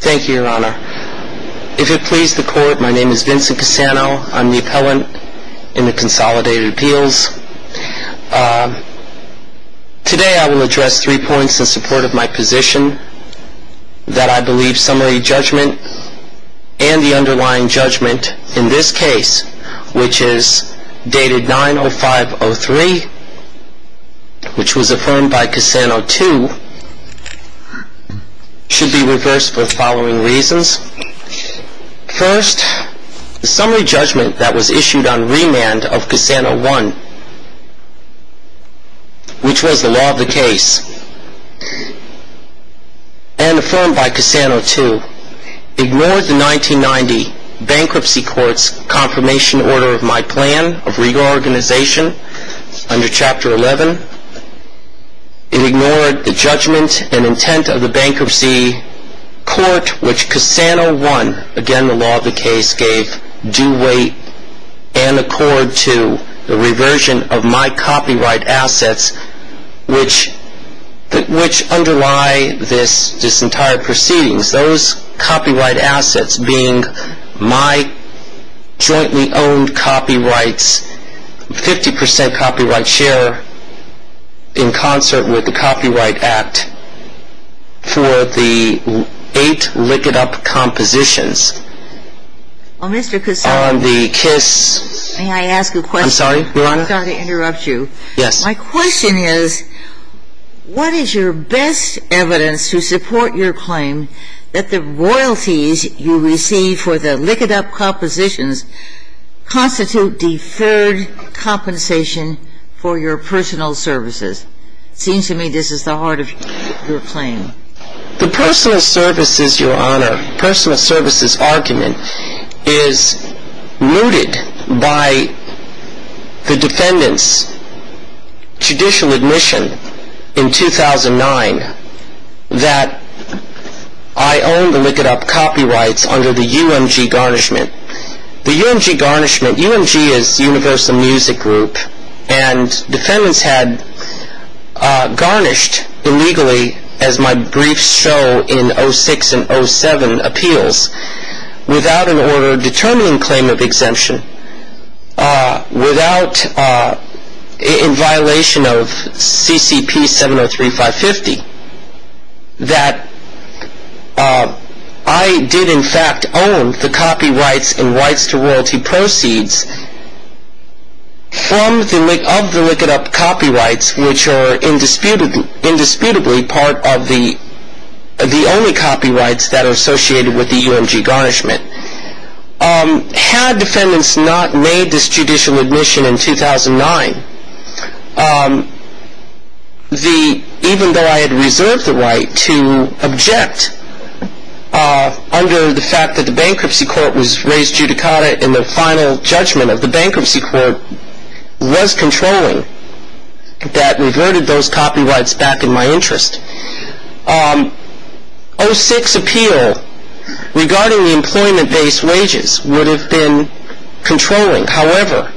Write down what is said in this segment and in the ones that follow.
Thank you, Your Honor. If it please the court, my name is Vincent Cusano. I'm the appellant in the Consolidated Appeals. Today I will address three points in support of my position that I believe summary judgment and the underlying judgment in this case, which is dated 90503, which was affirmed by Cusano II, should be reversed for the following reasons. First, the summary judgment that was issued on remand of Cusano I, which was the law of the case, and affirmed by Cusano II, ignored the 1990 Bankruptcy Court's confirmation order of my plan of reorganization under Chapter 11. It ignored the judgment and intent of the Bankruptcy Court, which Cusano I, again the law of the case, gave due weight and accord to the reversion of my copyright assets, which underlie this entire proceedings. Those copyright assets being my jointly owned copyrights, 50% copyright share in concert with the Copyright Act for the eight Lick It Up compositions. I'm sorry, Your Honor. I'm sorry to interrupt you. Yes. My question is, what is your best evidence to support your claim that the royalties you receive for the Lick It Up compositions constitute deferred compensation for your personal services? It seems to me this is the heart of your claim. The personal services, Your Honor, personal services argument is mooted by the defendant's judicial admission in 2009 that I own the Lick It Up copyrights under the UMG garnishment. The UMG garnishment, UMG is Universal Music Group, and defendants had garnished illegally, as my briefs show in 06 and 07 appeals, without an order determining claim of exemption, without, in violation of CCP 703550, that I did in fact own the copyrights and rights to royalty proceeds of the Lick It Up copyrights, which are indisputably part of the only copyrights that are associated with the UMG garnishment. Had defendants not made this judicial admission in 2009, even though I had reserved the right to object under the fact that the bankruptcy court was raised judicata and the final judgment of the bankruptcy court was controlling, that reverted those copyrights back in my interest, 06 appeal regarding the employment-based wages would have been controlling. However,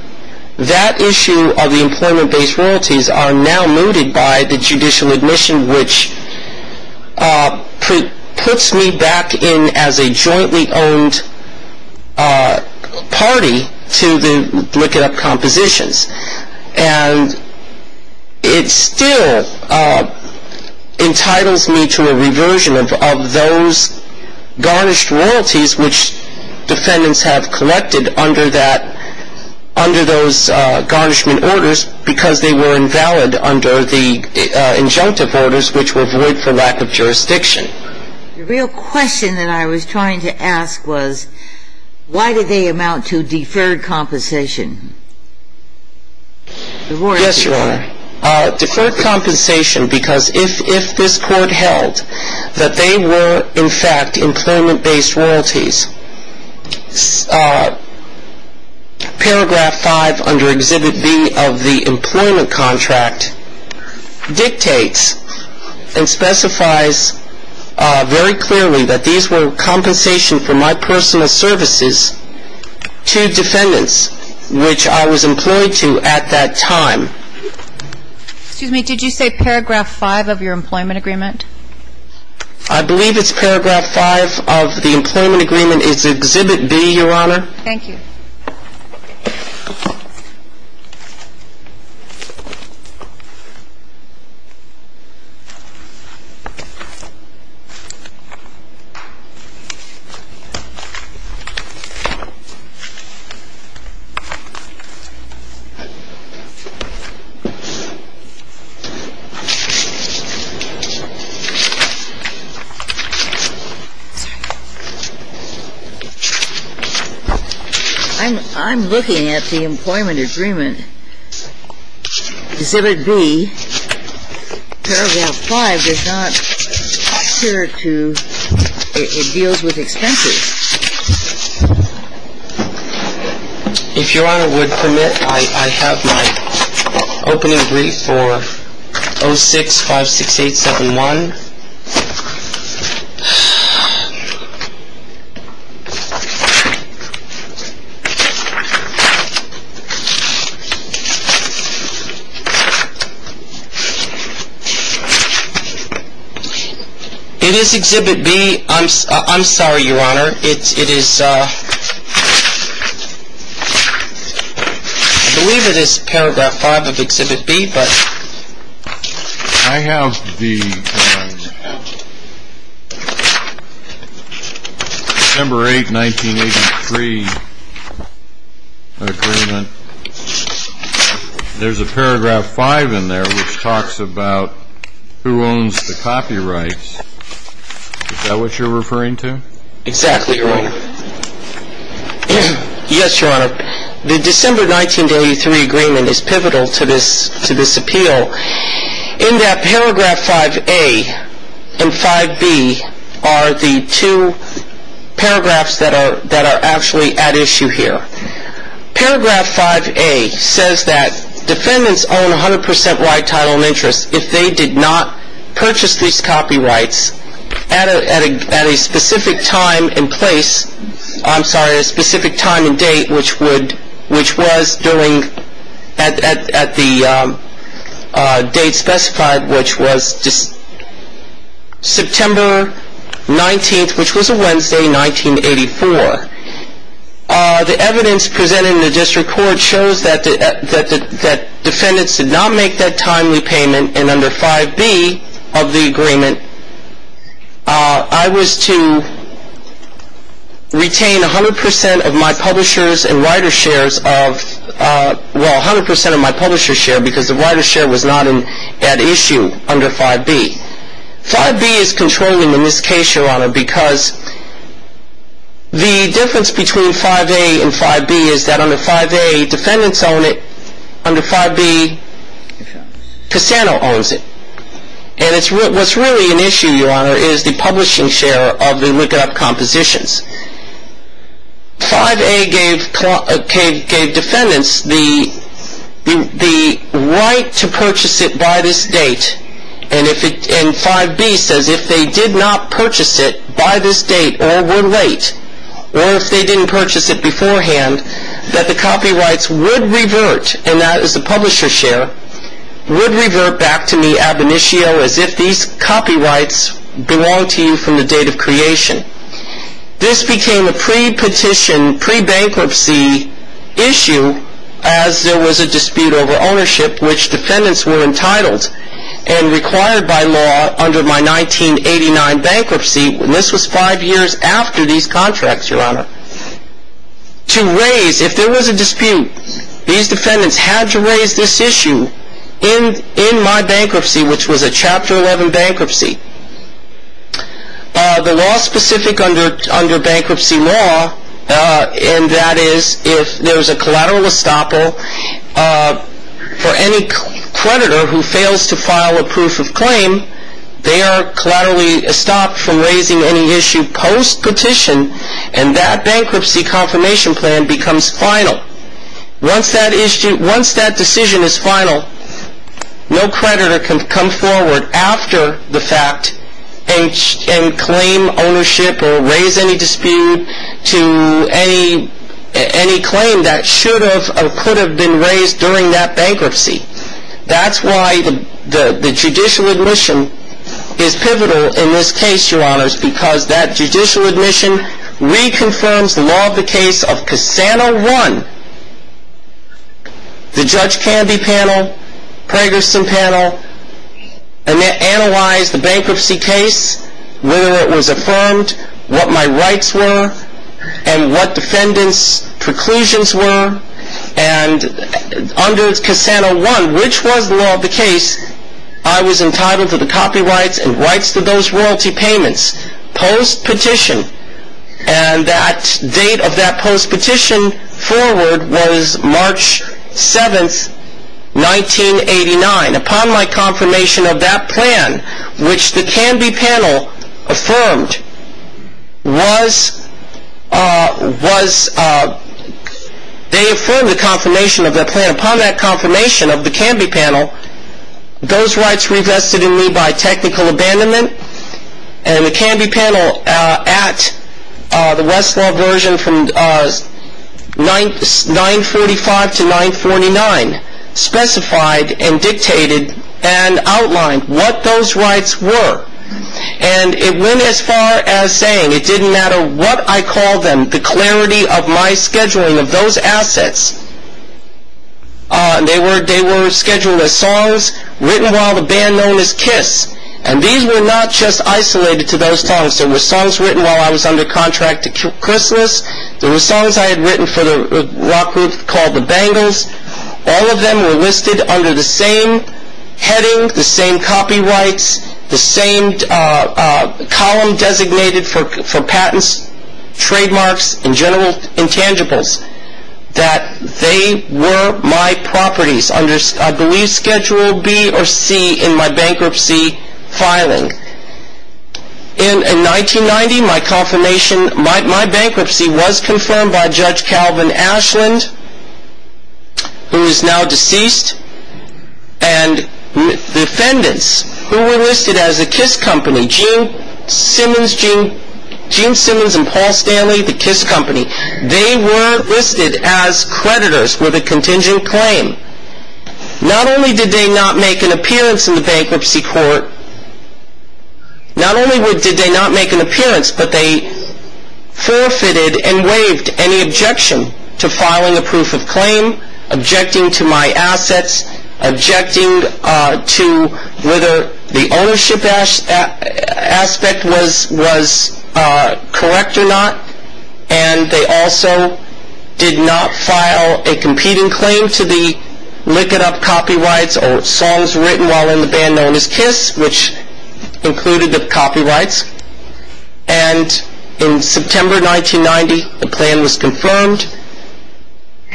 that issue of the employment-based royalties are now mooted by the judicial admission, which puts me back in as a jointly owned party to the Lick It Up compositions. And it still entitles me to a reversion of those garnished royalties, which defendants have collected under those garnishment orders, because they were invalid under the injunctive orders, which were void for lack of jurisdiction. The real question that I was trying to ask was, why did they amount to deferred compensation? Yes, Your Honor. Deferred compensation because if this court held that they were in fact employment-based royalties, paragraph 5 under Exhibit B of the employment contract dictates and specifies very clearly that these were compensation for my personal services to defendants, which I was employed to at that time. Excuse me, did you say paragraph 5 of your employment agreement? I believe it's paragraph 5 of the employment agreement. It's Exhibit B, Your Honor. Thank you. I'm looking at the employment agreement. Exhibit B, paragraph 5, does not appear to, it deals with expenses. If Your Honor would permit, I have my opening brief for 06-568-71. It is Exhibit B. I'm sorry, Your Honor. It is, I believe it is paragraph 5 of Exhibit B. I have the December 8, 1983 agreement. There's a paragraph 5 in there which talks about who owns the copyrights. Is that what you're referring to? Exactly, Your Honor. Yes, Your Honor. The December 1983 agreement is pivotal to this appeal in that paragraph 5A and 5B are the two paragraphs that are actually at issue here. Paragraph 5A says that defendants own 100% right, title, and interest if they did not purchase these copyrights at a specific time and place, I'm sorry, at a specific time and date, which was during, at the date specified, which was September 19th, which was a Wednesday, 1984. The evidence presented in the district court shows that defendants did not make that timely payment and under 5B of the agreement, I was to retain 100% of my publisher's and writer's shares of, well, 100% of my publisher's share because the writer's share was not at issue under 5B. 5B is controlling in this case, Your Honor, because the difference between 5A and 5B is that under 5A defendants own it, under 5B Cassano owns it. And what's really an issue, Your Honor, is the publishing share of the Likudop compositions. 5A gave defendants the right to purchase it by this date, and 5B says if they did not purchase it by this date or were late, or if they didn't purchase it beforehand, that the copyrights would revert, and that is the publisher's share, would revert back to me ab initio as if these copyrights belong to you from the date of creation. This became a pre-petition, pre-bankruptcy issue as there was a dispute over ownership, which defendants were entitled and required by law under my 1989 bankruptcy, and this was five years after these contracts, Your Honor, to raise, if there was a dispute, these defendants had to raise this issue in my bankruptcy, which was a Chapter 11 bankruptcy. The law specific under bankruptcy law, and that is if there's a collateral estoppel for any creditor who fails to file a proof of claim, they are collaterally estopped from raising any issue post-petition, and that bankruptcy confirmation plan becomes final. Once that decision is final, no creditor can come forward after the fact and claim ownership or raise any dispute to any claim that should have or could have been raised during that bankruptcy. That's why the judicial admission is pivotal in this case, Your Honors, because that judicial admission reconfirms the law of the case of Casano 1. The Judge Candy panel, Prager Sun panel, analyzed the bankruptcy case, whether it was affirmed, what my rights were, and what defendants' preclusions were, and under Casano 1, which was the law of the case, I was entitled to the copyrights and rights to those royalty payments post-petition, and that date of that post-petition forward was March 7, 1989. Upon my confirmation of that plan, which the Candy panel affirmed, they affirmed the confirmation of that plan. Upon that confirmation of the Candy panel, those rights were invested in me by technical abandonment, and the Candy panel at the Westlaw version from 945 to 949 specified and dictated and outlined what those rights were, and it went as far as saying it didn't matter what I called them, the clarity of my scheduling of those assets, they were scheduled as songs written while the band known as Kiss, and these were not just isolated to those songs, there were songs written while I was under contract to Christmas, there were songs I had written for the rock group called The Bangles, all of them were listed under the same heading, the same copyrights, the same column designated for patents, trademarks, and general intangibles, that they were my properties under, I believe, schedule B or C in my bankruptcy filing. In 1990, my bankruptcy was confirmed by Judge Calvin Ashland, who is now deceased, and the defendants who were listed as the Kiss Company, Gene Simmons and Paul Stanley, the Kiss Company, they were listed as creditors with a contingent claim. Not only did they not make an appearance in the bankruptcy court, not only did they not make an appearance, but they forfeited and waived any objection to filing a proof of claim, objecting to my assets, objecting to whether the ownership aspect was correct or not, and they also did not file a competing claim to the Lick It Up copyrights or songs written while in the band known as Kiss, which included the copyrights, and in September 1990, the plan was confirmed.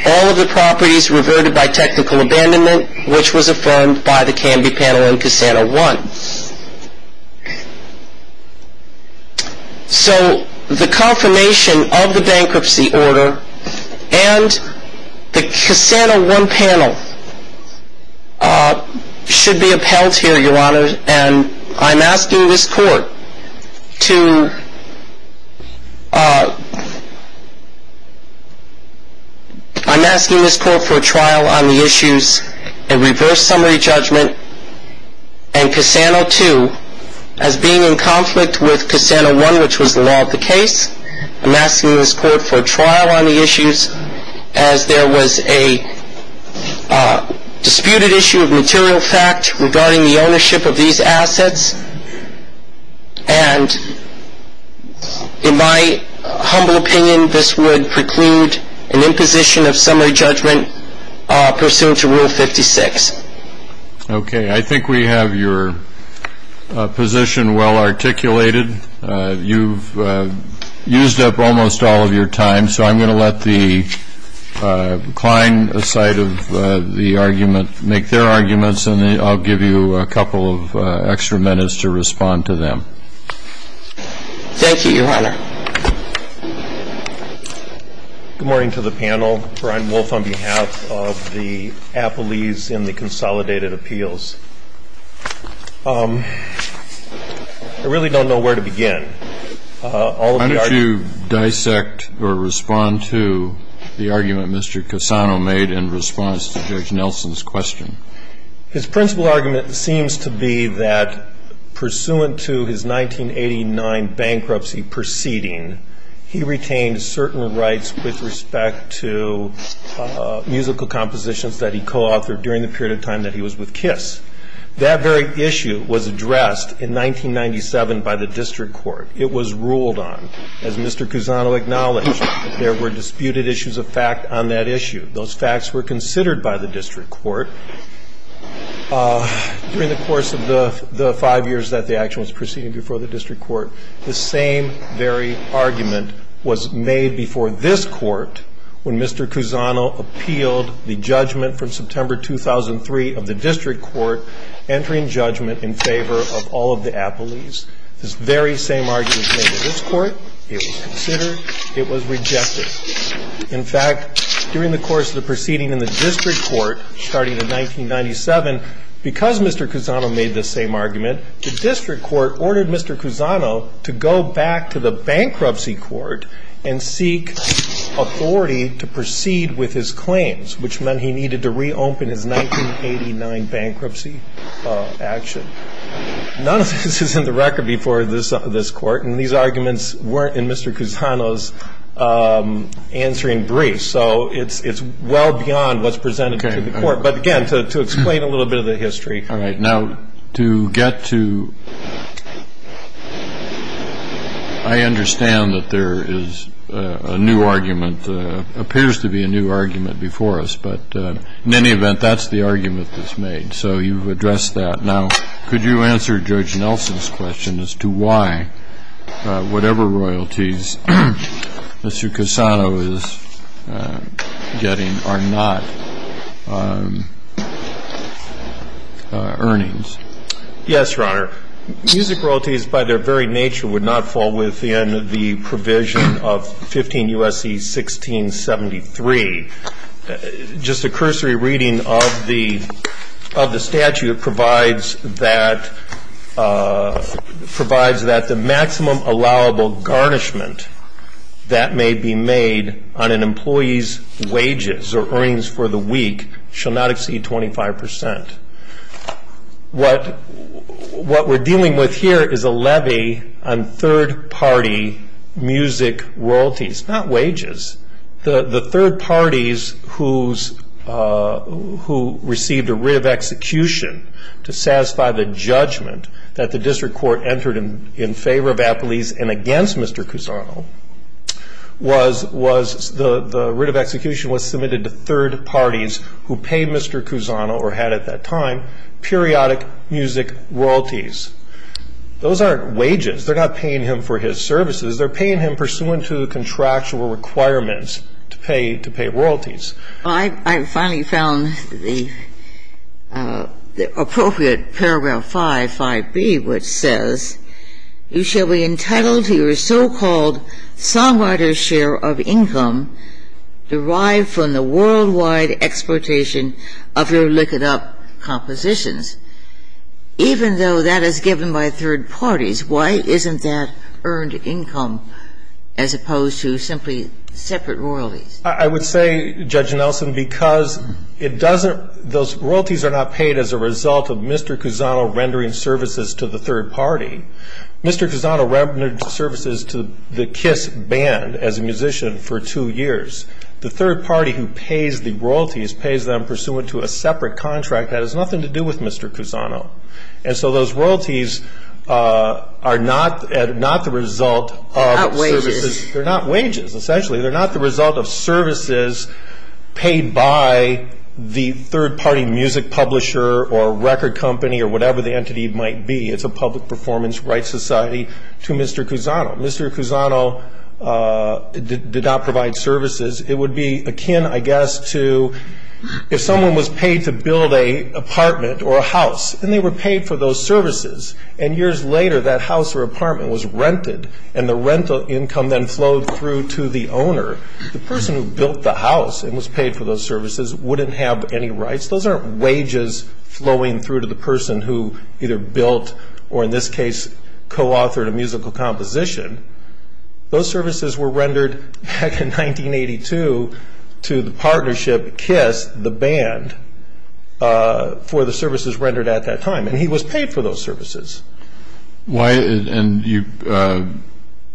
All of the properties reverted by technical abandonment, which was affirmed by the Canby Panel and Casano One. So the confirmation of the bankruptcy order and the Casano One panel should be upheld here, Your Honor, and I'm asking this court to, I'm asking this court for a trial on the issues, a reverse summary judgment and Casano Two as being in conflict with Casano One, which was the law of the case. I'm asking this court for a trial on the issues as there was a disputed issue of material fact regarding the ownership of these assets, and in my humble opinion, this would preclude an imposition of summary judgment pursuant to Rule 56. Okay. I think we have your position well articulated. You've used up almost all of your time, so I'm going to let the Klein side of the argument make their arguments, and then I'll give you a couple of extra minutes to respond to them. Thank you, Your Honor. Good morning to the panel. Brian Wolfe on behalf of the Appellees in the Consolidated Appeals. I really don't know where to begin. How did you dissect or respond to the argument Mr. Casano made in response to Judge Nelson's question? His principal argument seems to be that pursuant to his 1989 bankruptcy proceeding, he retained certain rights with respect to musical compositions that he co-authored during the period of time that he was with Kiss. That very issue was addressed in 1997 by the district court. It was ruled on. As Mr. Casano acknowledged, there were disputed issues of fact on that issue. Those facts were considered by the district court. During the course of the five years that the action was proceeding before the district court, the same very argument was made before this court when Mr. Casano appealed the judgment from September 2003 of the district court entering judgment in favor of all of the Appellees. This very same argument was made in this court. It was considered. It was rejected. In fact, during the course of the proceeding in the district court starting in 1997, because Mr. Casano made this same argument, the district court ordered Mr. Casano to go back to the bankruptcy court and seek authority to proceed with his claims, which meant he needed to reopen his 1989 bankruptcy action. None of this is in the record before this court. And these arguments weren't in Mr. Casano's answering briefs. So it's well beyond what's presented to the court. But, again, to explain a little bit of the history. All right. Now, to get to I understand that there is a new argument, appears to be a new argument before us. But in any event, that's the argument that's made. So you've addressed that. Now, could you answer Judge Nelson's question as to why whatever royalties Mr. Casano is getting are not earnings? Yes, Your Honor. Music royalties by their very nature would not fall within the provision of 15 U.S.C. 1673. Just a cursory reading of the statute provides that the maximum allowable garnishment that may be made on an employee's wages or earnings for the week shall not exceed 25 percent. What we're dealing with here is a levy on third-party music royalties, not wages. The third parties who received a writ of execution to satisfy the judgment that the district court entered in favor of Appleese and against Mr. Casano, the writ of execution was submitted to third parties who paid Mr. Casano or had at that time periodic music royalties. Those aren't wages. They're not paying him for his services. They're paying him pursuant to the contractual requirements to pay royalties. I finally found the appropriate Paragraph 5, 5B, which says, You shall be entitled to your so-called songwriter's share of income derived from the worldwide exploitation of your look-it-up compositions. Even though that is given by third parties, why isn't that earned income as opposed to simply separate royalties? I would say, Judge Nelson, because it doesn't – those royalties are not paid as a result of Mr. Casano rendering services to the third party. Mr. Casano rendered services to the Kiss Band as a musician for two years. The third party who pays the royalties pays them pursuant to a separate contract that has nothing to do with Mr. Casano. And so those royalties are not the result of services. They're not wages. They're not wages, essentially. They're not the result of services paid by the third-party music publisher or record company or whatever the entity might be. It's a public performance rights society to Mr. Casano. Mr. Casano did not provide services. It would be akin, I guess, to if someone was paid to build a apartment or a house, and they were paid for those services, and years later that house or apartment was rented and the rental income then flowed through to the owner, the person who built the house and was paid for those services wouldn't have any rights. Those aren't wages flowing through to the person who either built or, in this case, co-authored a musical composition. Those services were rendered back in 1982 to the partnership, Kiss, the band, for the services rendered at that time. And he was paid for those services. And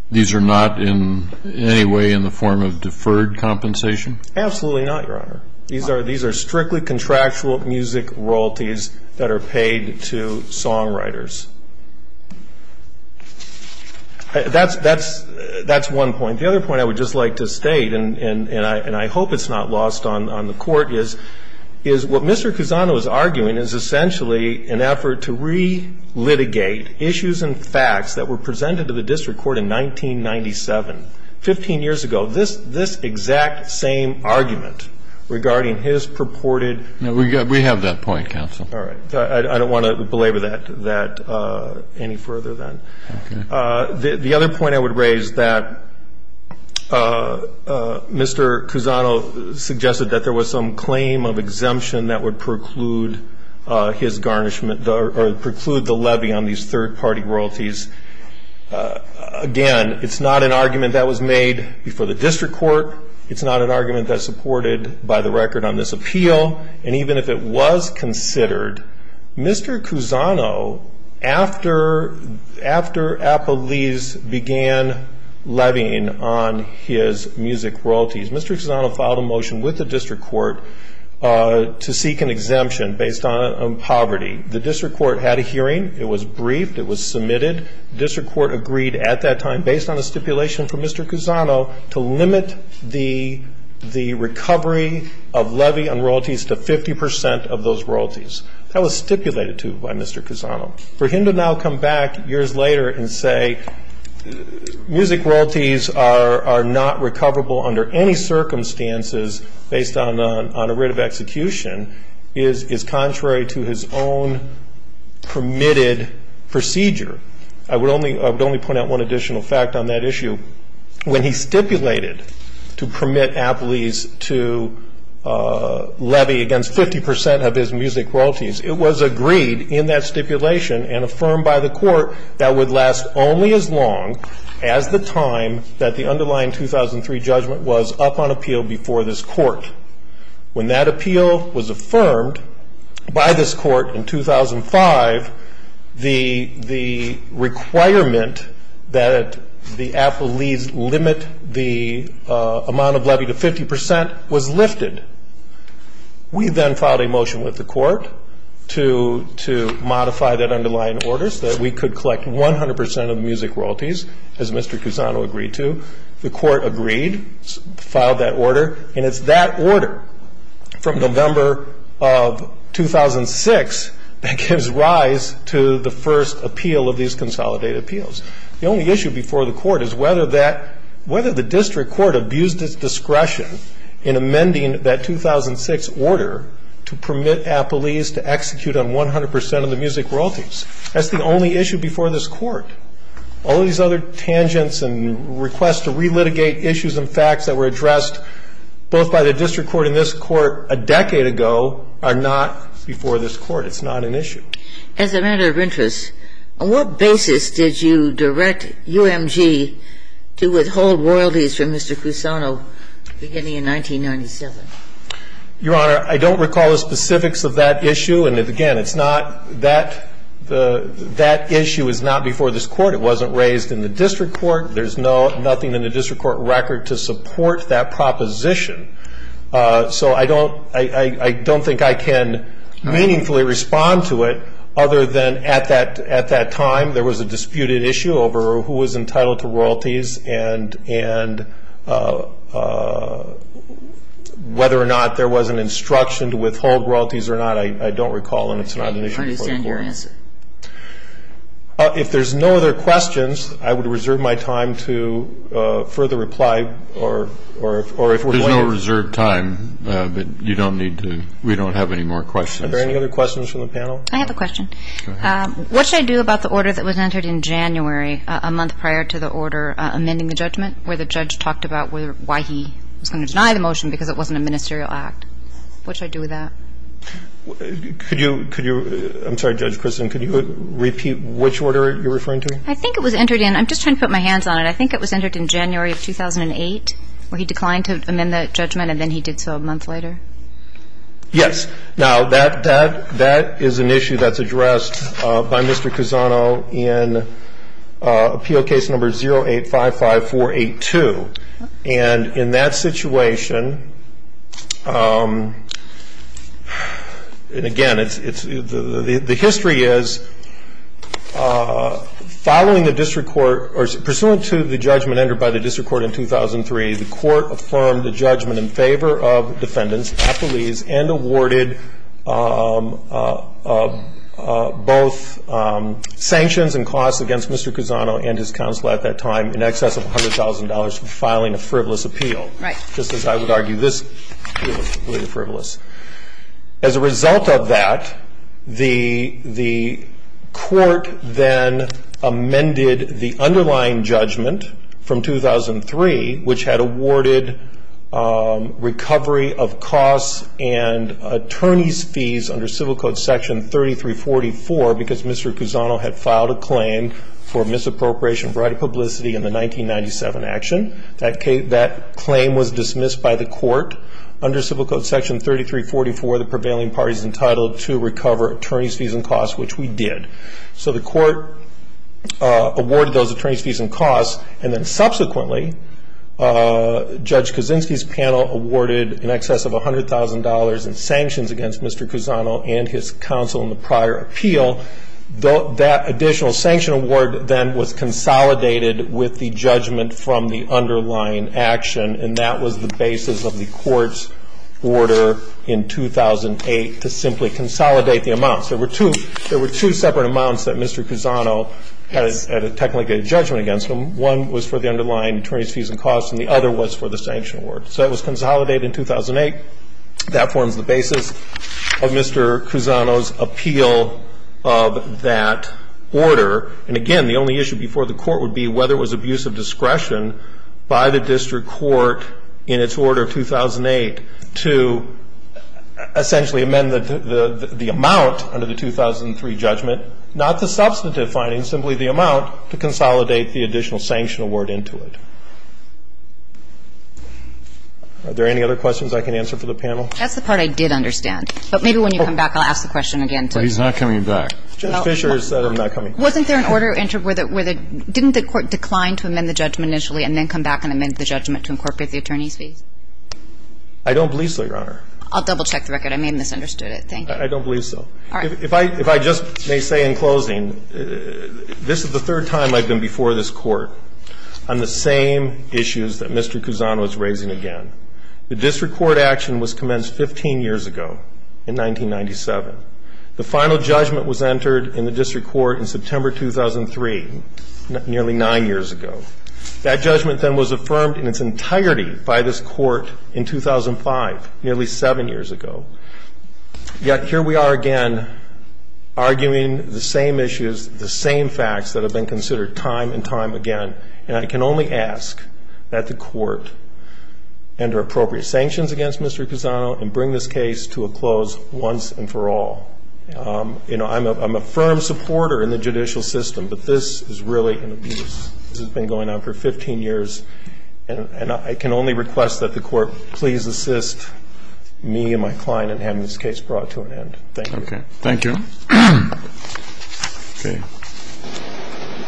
these are not in any way in the form of deferred compensation? Absolutely not, Your Honor. These are strictly contractual music royalties that are paid to songwriters. That's one point. The other point I would just like to state, and I hope it's not lost on the Court, is what Mr. Casano is arguing is essentially an effort to re-litigate issues and facts that were presented to the district court in 1997. Fifteen years ago, this exact same argument regarding his purported ---- No, we have that point, counsel. All right. I don't want to belabor that any further then. Okay. The other point I would raise, that Mr. Casano suggested that there was some claim of exemption that would preclude his garnishment or preclude the levy on these third-party royalties. Again, it's not an argument that was made before the district court. It's not an argument that's supported by the record on this appeal. And even if it was considered, Mr. Casano, after Apolles began levying on his music royalties, Mr. Casano filed a motion with the district court to seek an exemption based on poverty. The district court had a hearing. It was briefed. It was submitted. The district court agreed at that time, based on a stipulation from Mr. Casano, to limit the recovery of levy on royalties to 50 percent of those royalties. That was stipulated to by Mr. Casano. For him to now come back years later and say music royalties are not recoverable under any circumstances based on a writ of execution is contrary to his own permitted procedure. I would only point out one additional fact on that issue. When he stipulated to permit Apolles to levy against 50 percent of his music royalties, it was agreed in that stipulation and affirmed by the court that would last only as long as the time that the underlying 2003 judgment was up on appeal before this court. When that appeal was affirmed by this court in 2005, the requirement that the Apolles limit the amount of levy to 50 percent was lifted. We then filed a motion with the court to modify that underlying order that we could collect 100 percent of the music royalties, as Mr. Casano agreed to. The court agreed, filed that order, and it's that order from November of 2006 that gives rise to the first appeal of these consolidated appeals. The only issue before the court is whether the district court abused its discretion in amending that 2006 order to permit Apolles to execute on 100 percent of the music royalties. That's the only issue before this court. All these other tangents and requests to relitigate issues and facts that were addressed both by the district court and this court a decade ago are not before this court. It's not an issue. As a matter of interest, on what basis did you direct UMG to withhold royalties from Mr. Casano beginning in 1997? Your Honor, I don't recall the specifics of that issue. And, again, it's not that issue is not before this court. It wasn't raised in the district court. There's nothing in the district court record to support that proposition. So I don't think I can meaningfully respond to it other than at that time there was a disputed issue over who was entitled to royalties and whether or not there was an instruction to withhold royalties or not. And I don't recall, and it's not an issue before the court. I understand your answer. If there's no other questions, I would reserve my time to further reply or if we're going to. There's no reserved time, but you don't need to. We don't have any more questions. Are there any other questions from the panel? I have a question. Go ahead. What should I do about the order that was entered in January, a month prior to the order amending the judgment, where the judge talked about why he was going to deny the motion because it wasn't a ministerial act? What should I do with that? I'm sorry, Judge Christin. Could you repeat which order you're referring to? I think it was entered in. I'm just trying to put my hands on it. I think it was entered in January of 2008 where he declined to amend the judgment, and then he did so a month later. Yes. Now, that is an issue that's addressed by Mr. Cusano in appeal case number 0855482. And in that situation, and again, it's the history is following the district court or pursuant to the judgment entered by the district court in 2003, the court affirmed the judgment in favor of defendants, appelees, and awarded both sanctions and costs against Mr. Cusano and his counsel at that time in excess of $100,000 for filing a frivolous appeal. Right. Just as I would argue this was completely frivolous. As a result of that, the court then amended the underlying judgment from 2003, which had awarded recovery of costs and attorneys' fees under Civil Code Section 3344 because Mr. Cusano had filed a claim for misappropriation of right of publicity in the 1997 action. That claim was dismissed by the court under Civil Code Section 3344, the prevailing parties entitled to recover attorneys' fees and costs, which we did. So the court awarded those attorneys' fees and costs, and then subsequently Judge Kaczynski's panel awarded in excess of $100,000 in sanctions against Mr. Cusano and his counsel in the prior appeal. That additional sanction award then was consolidated with the judgment from the underlying action, and that was the basis of the court's order in 2008 to simply consolidate the amounts. There were two separate amounts that Mr. Cusano had technically a judgment against. One was for the underlying attorneys' fees and costs, and the other was for the sanction award. So that was consolidated in 2008. That forms the basis of Mr. Cusano's appeal of that order. And again, the only issue before the court would be whether it was abuse of discretion by the district court in its order of 2008 to essentially amend the amount under the 2003 judgment, not the substantive findings, simply the amount to consolidate the additional sanction award into it. Are there any other questions I can answer for the panel? That's the part I did understand. But maybe when you come back, I'll ask the question again. But he's not coming back. Judge Fischer has said I'm not coming back. Wasn't there an order entered where the – didn't the court decline to amend the judgment initially and then come back and amend the judgment to incorporate the attorneys' fees? I don't believe so, Your Honor. I'll double-check the record. I may have misunderstood it. I don't believe so. All right. If I – if I just may say in closing, this is the third time I've been before this court on the same issues that Mr. Cusano is raising again. The district court action was commenced 15 years ago in 1997. The final judgment was entered in the district court in September 2003, nearly nine years ago. That judgment then was affirmed in its entirety by this court in 2005, nearly seven years ago. Yet here we are again, arguing the same issues, the same facts that have been considered time and time again. And I can only ask that the court enter appropriate sanctions against Mr. Cusano and bring this case to a close once and for all. You know, I'm a firm supporter in the judicial system, but this is really an abuse. This has been going on for 15 years, and I can only request that the court please assist me and my client in having this case brought to an end. Thank you. Okay. Thank you. Okay.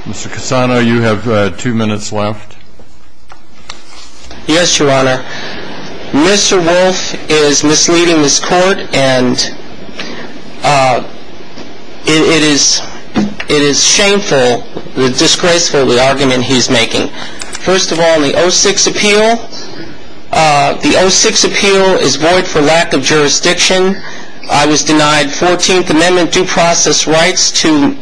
Mr. Cusano, you have two minutes left. Yes, Your Honor. Mr. Wolf is misleading this court, and it is shameful, disgraceful, the argument he's making. First of all, the 06 appeal, the 06 appeal is void for lack of jurisdiction. I was denied 14th Amendment due process rights to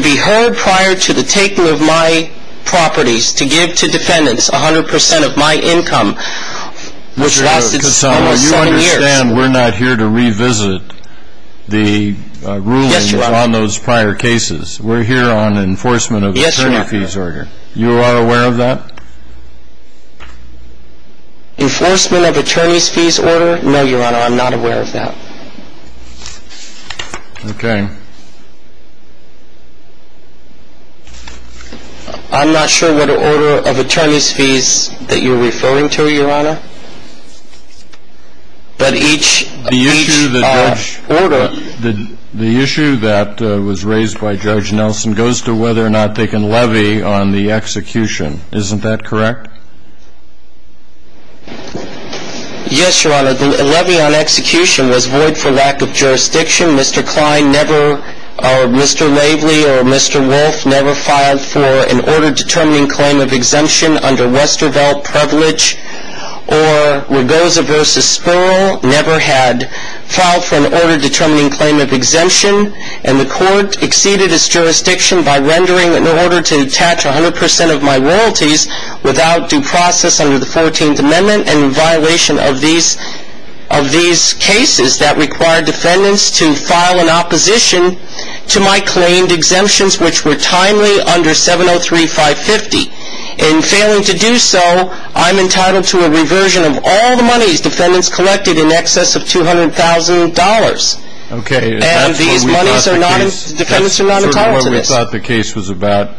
be heard prior to the taking of my properties, to give to defendants 100 percent of my income, which lasted almost seven years. Mr. Cusano, you understand we're not here to revisit the rulings on those prior cases. Yes, Your Honor. We're here on enforcement of the attorney fees order. You are aware of that? Enforcement of attorney fees order? No, Your Honor. I'm not aware of that. Okay. I'm not sure what order of attorney fees that you're referring to, Your Honor. But each order – The issue that was raised by Judge Nelson goes to whether or not they can levy on the execution. Isn't that correct? Yes, Your Honor. The levy on execution was void for lack of jurisdiction. Mr. Klein never – or Mr. Laveley or Mr. Wolf never filed for an order determining claim of exemption under Westervelt privilege, or Ragoza v. Sperl never had filed for an order determining claim of exemption, and the without due process under the 14th Amendment and in violation of these cases that required defendants to file an opposition to my claimed exemptions, which were timely under 703-550. In failing to do so, I'm entitled to a reversion of all the monies defendants collected in excess of $200,000. Okay. And that's what we thought the case – And these monies are not – defendants are not entitled to this. That's what we thought the case was about.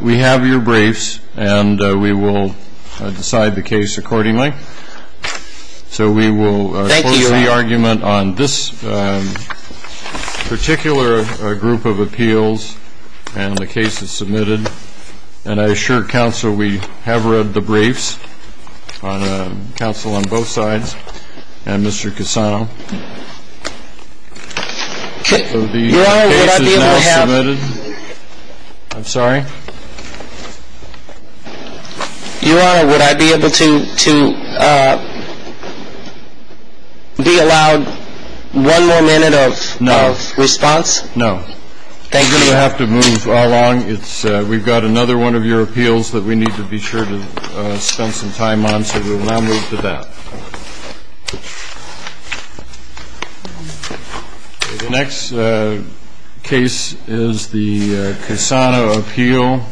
We have your briefs, and we will decide the case accordingly. So we will close the argument on this particular group of appeals, and the case is submitted. And I assure counsel we have read the briefs, counsel on both sides and Mr. Cassano. So the case is now submitted. Your Honor, would I be able to have – I'm sorry? Your Honor, would I be able to be allowed one more minute of response? No. Thank you. You're going to have to move all along. We've got another one of your appeals that we need to be sure to spend some time on, so we will now move to that. The next case is the Cassano appeal.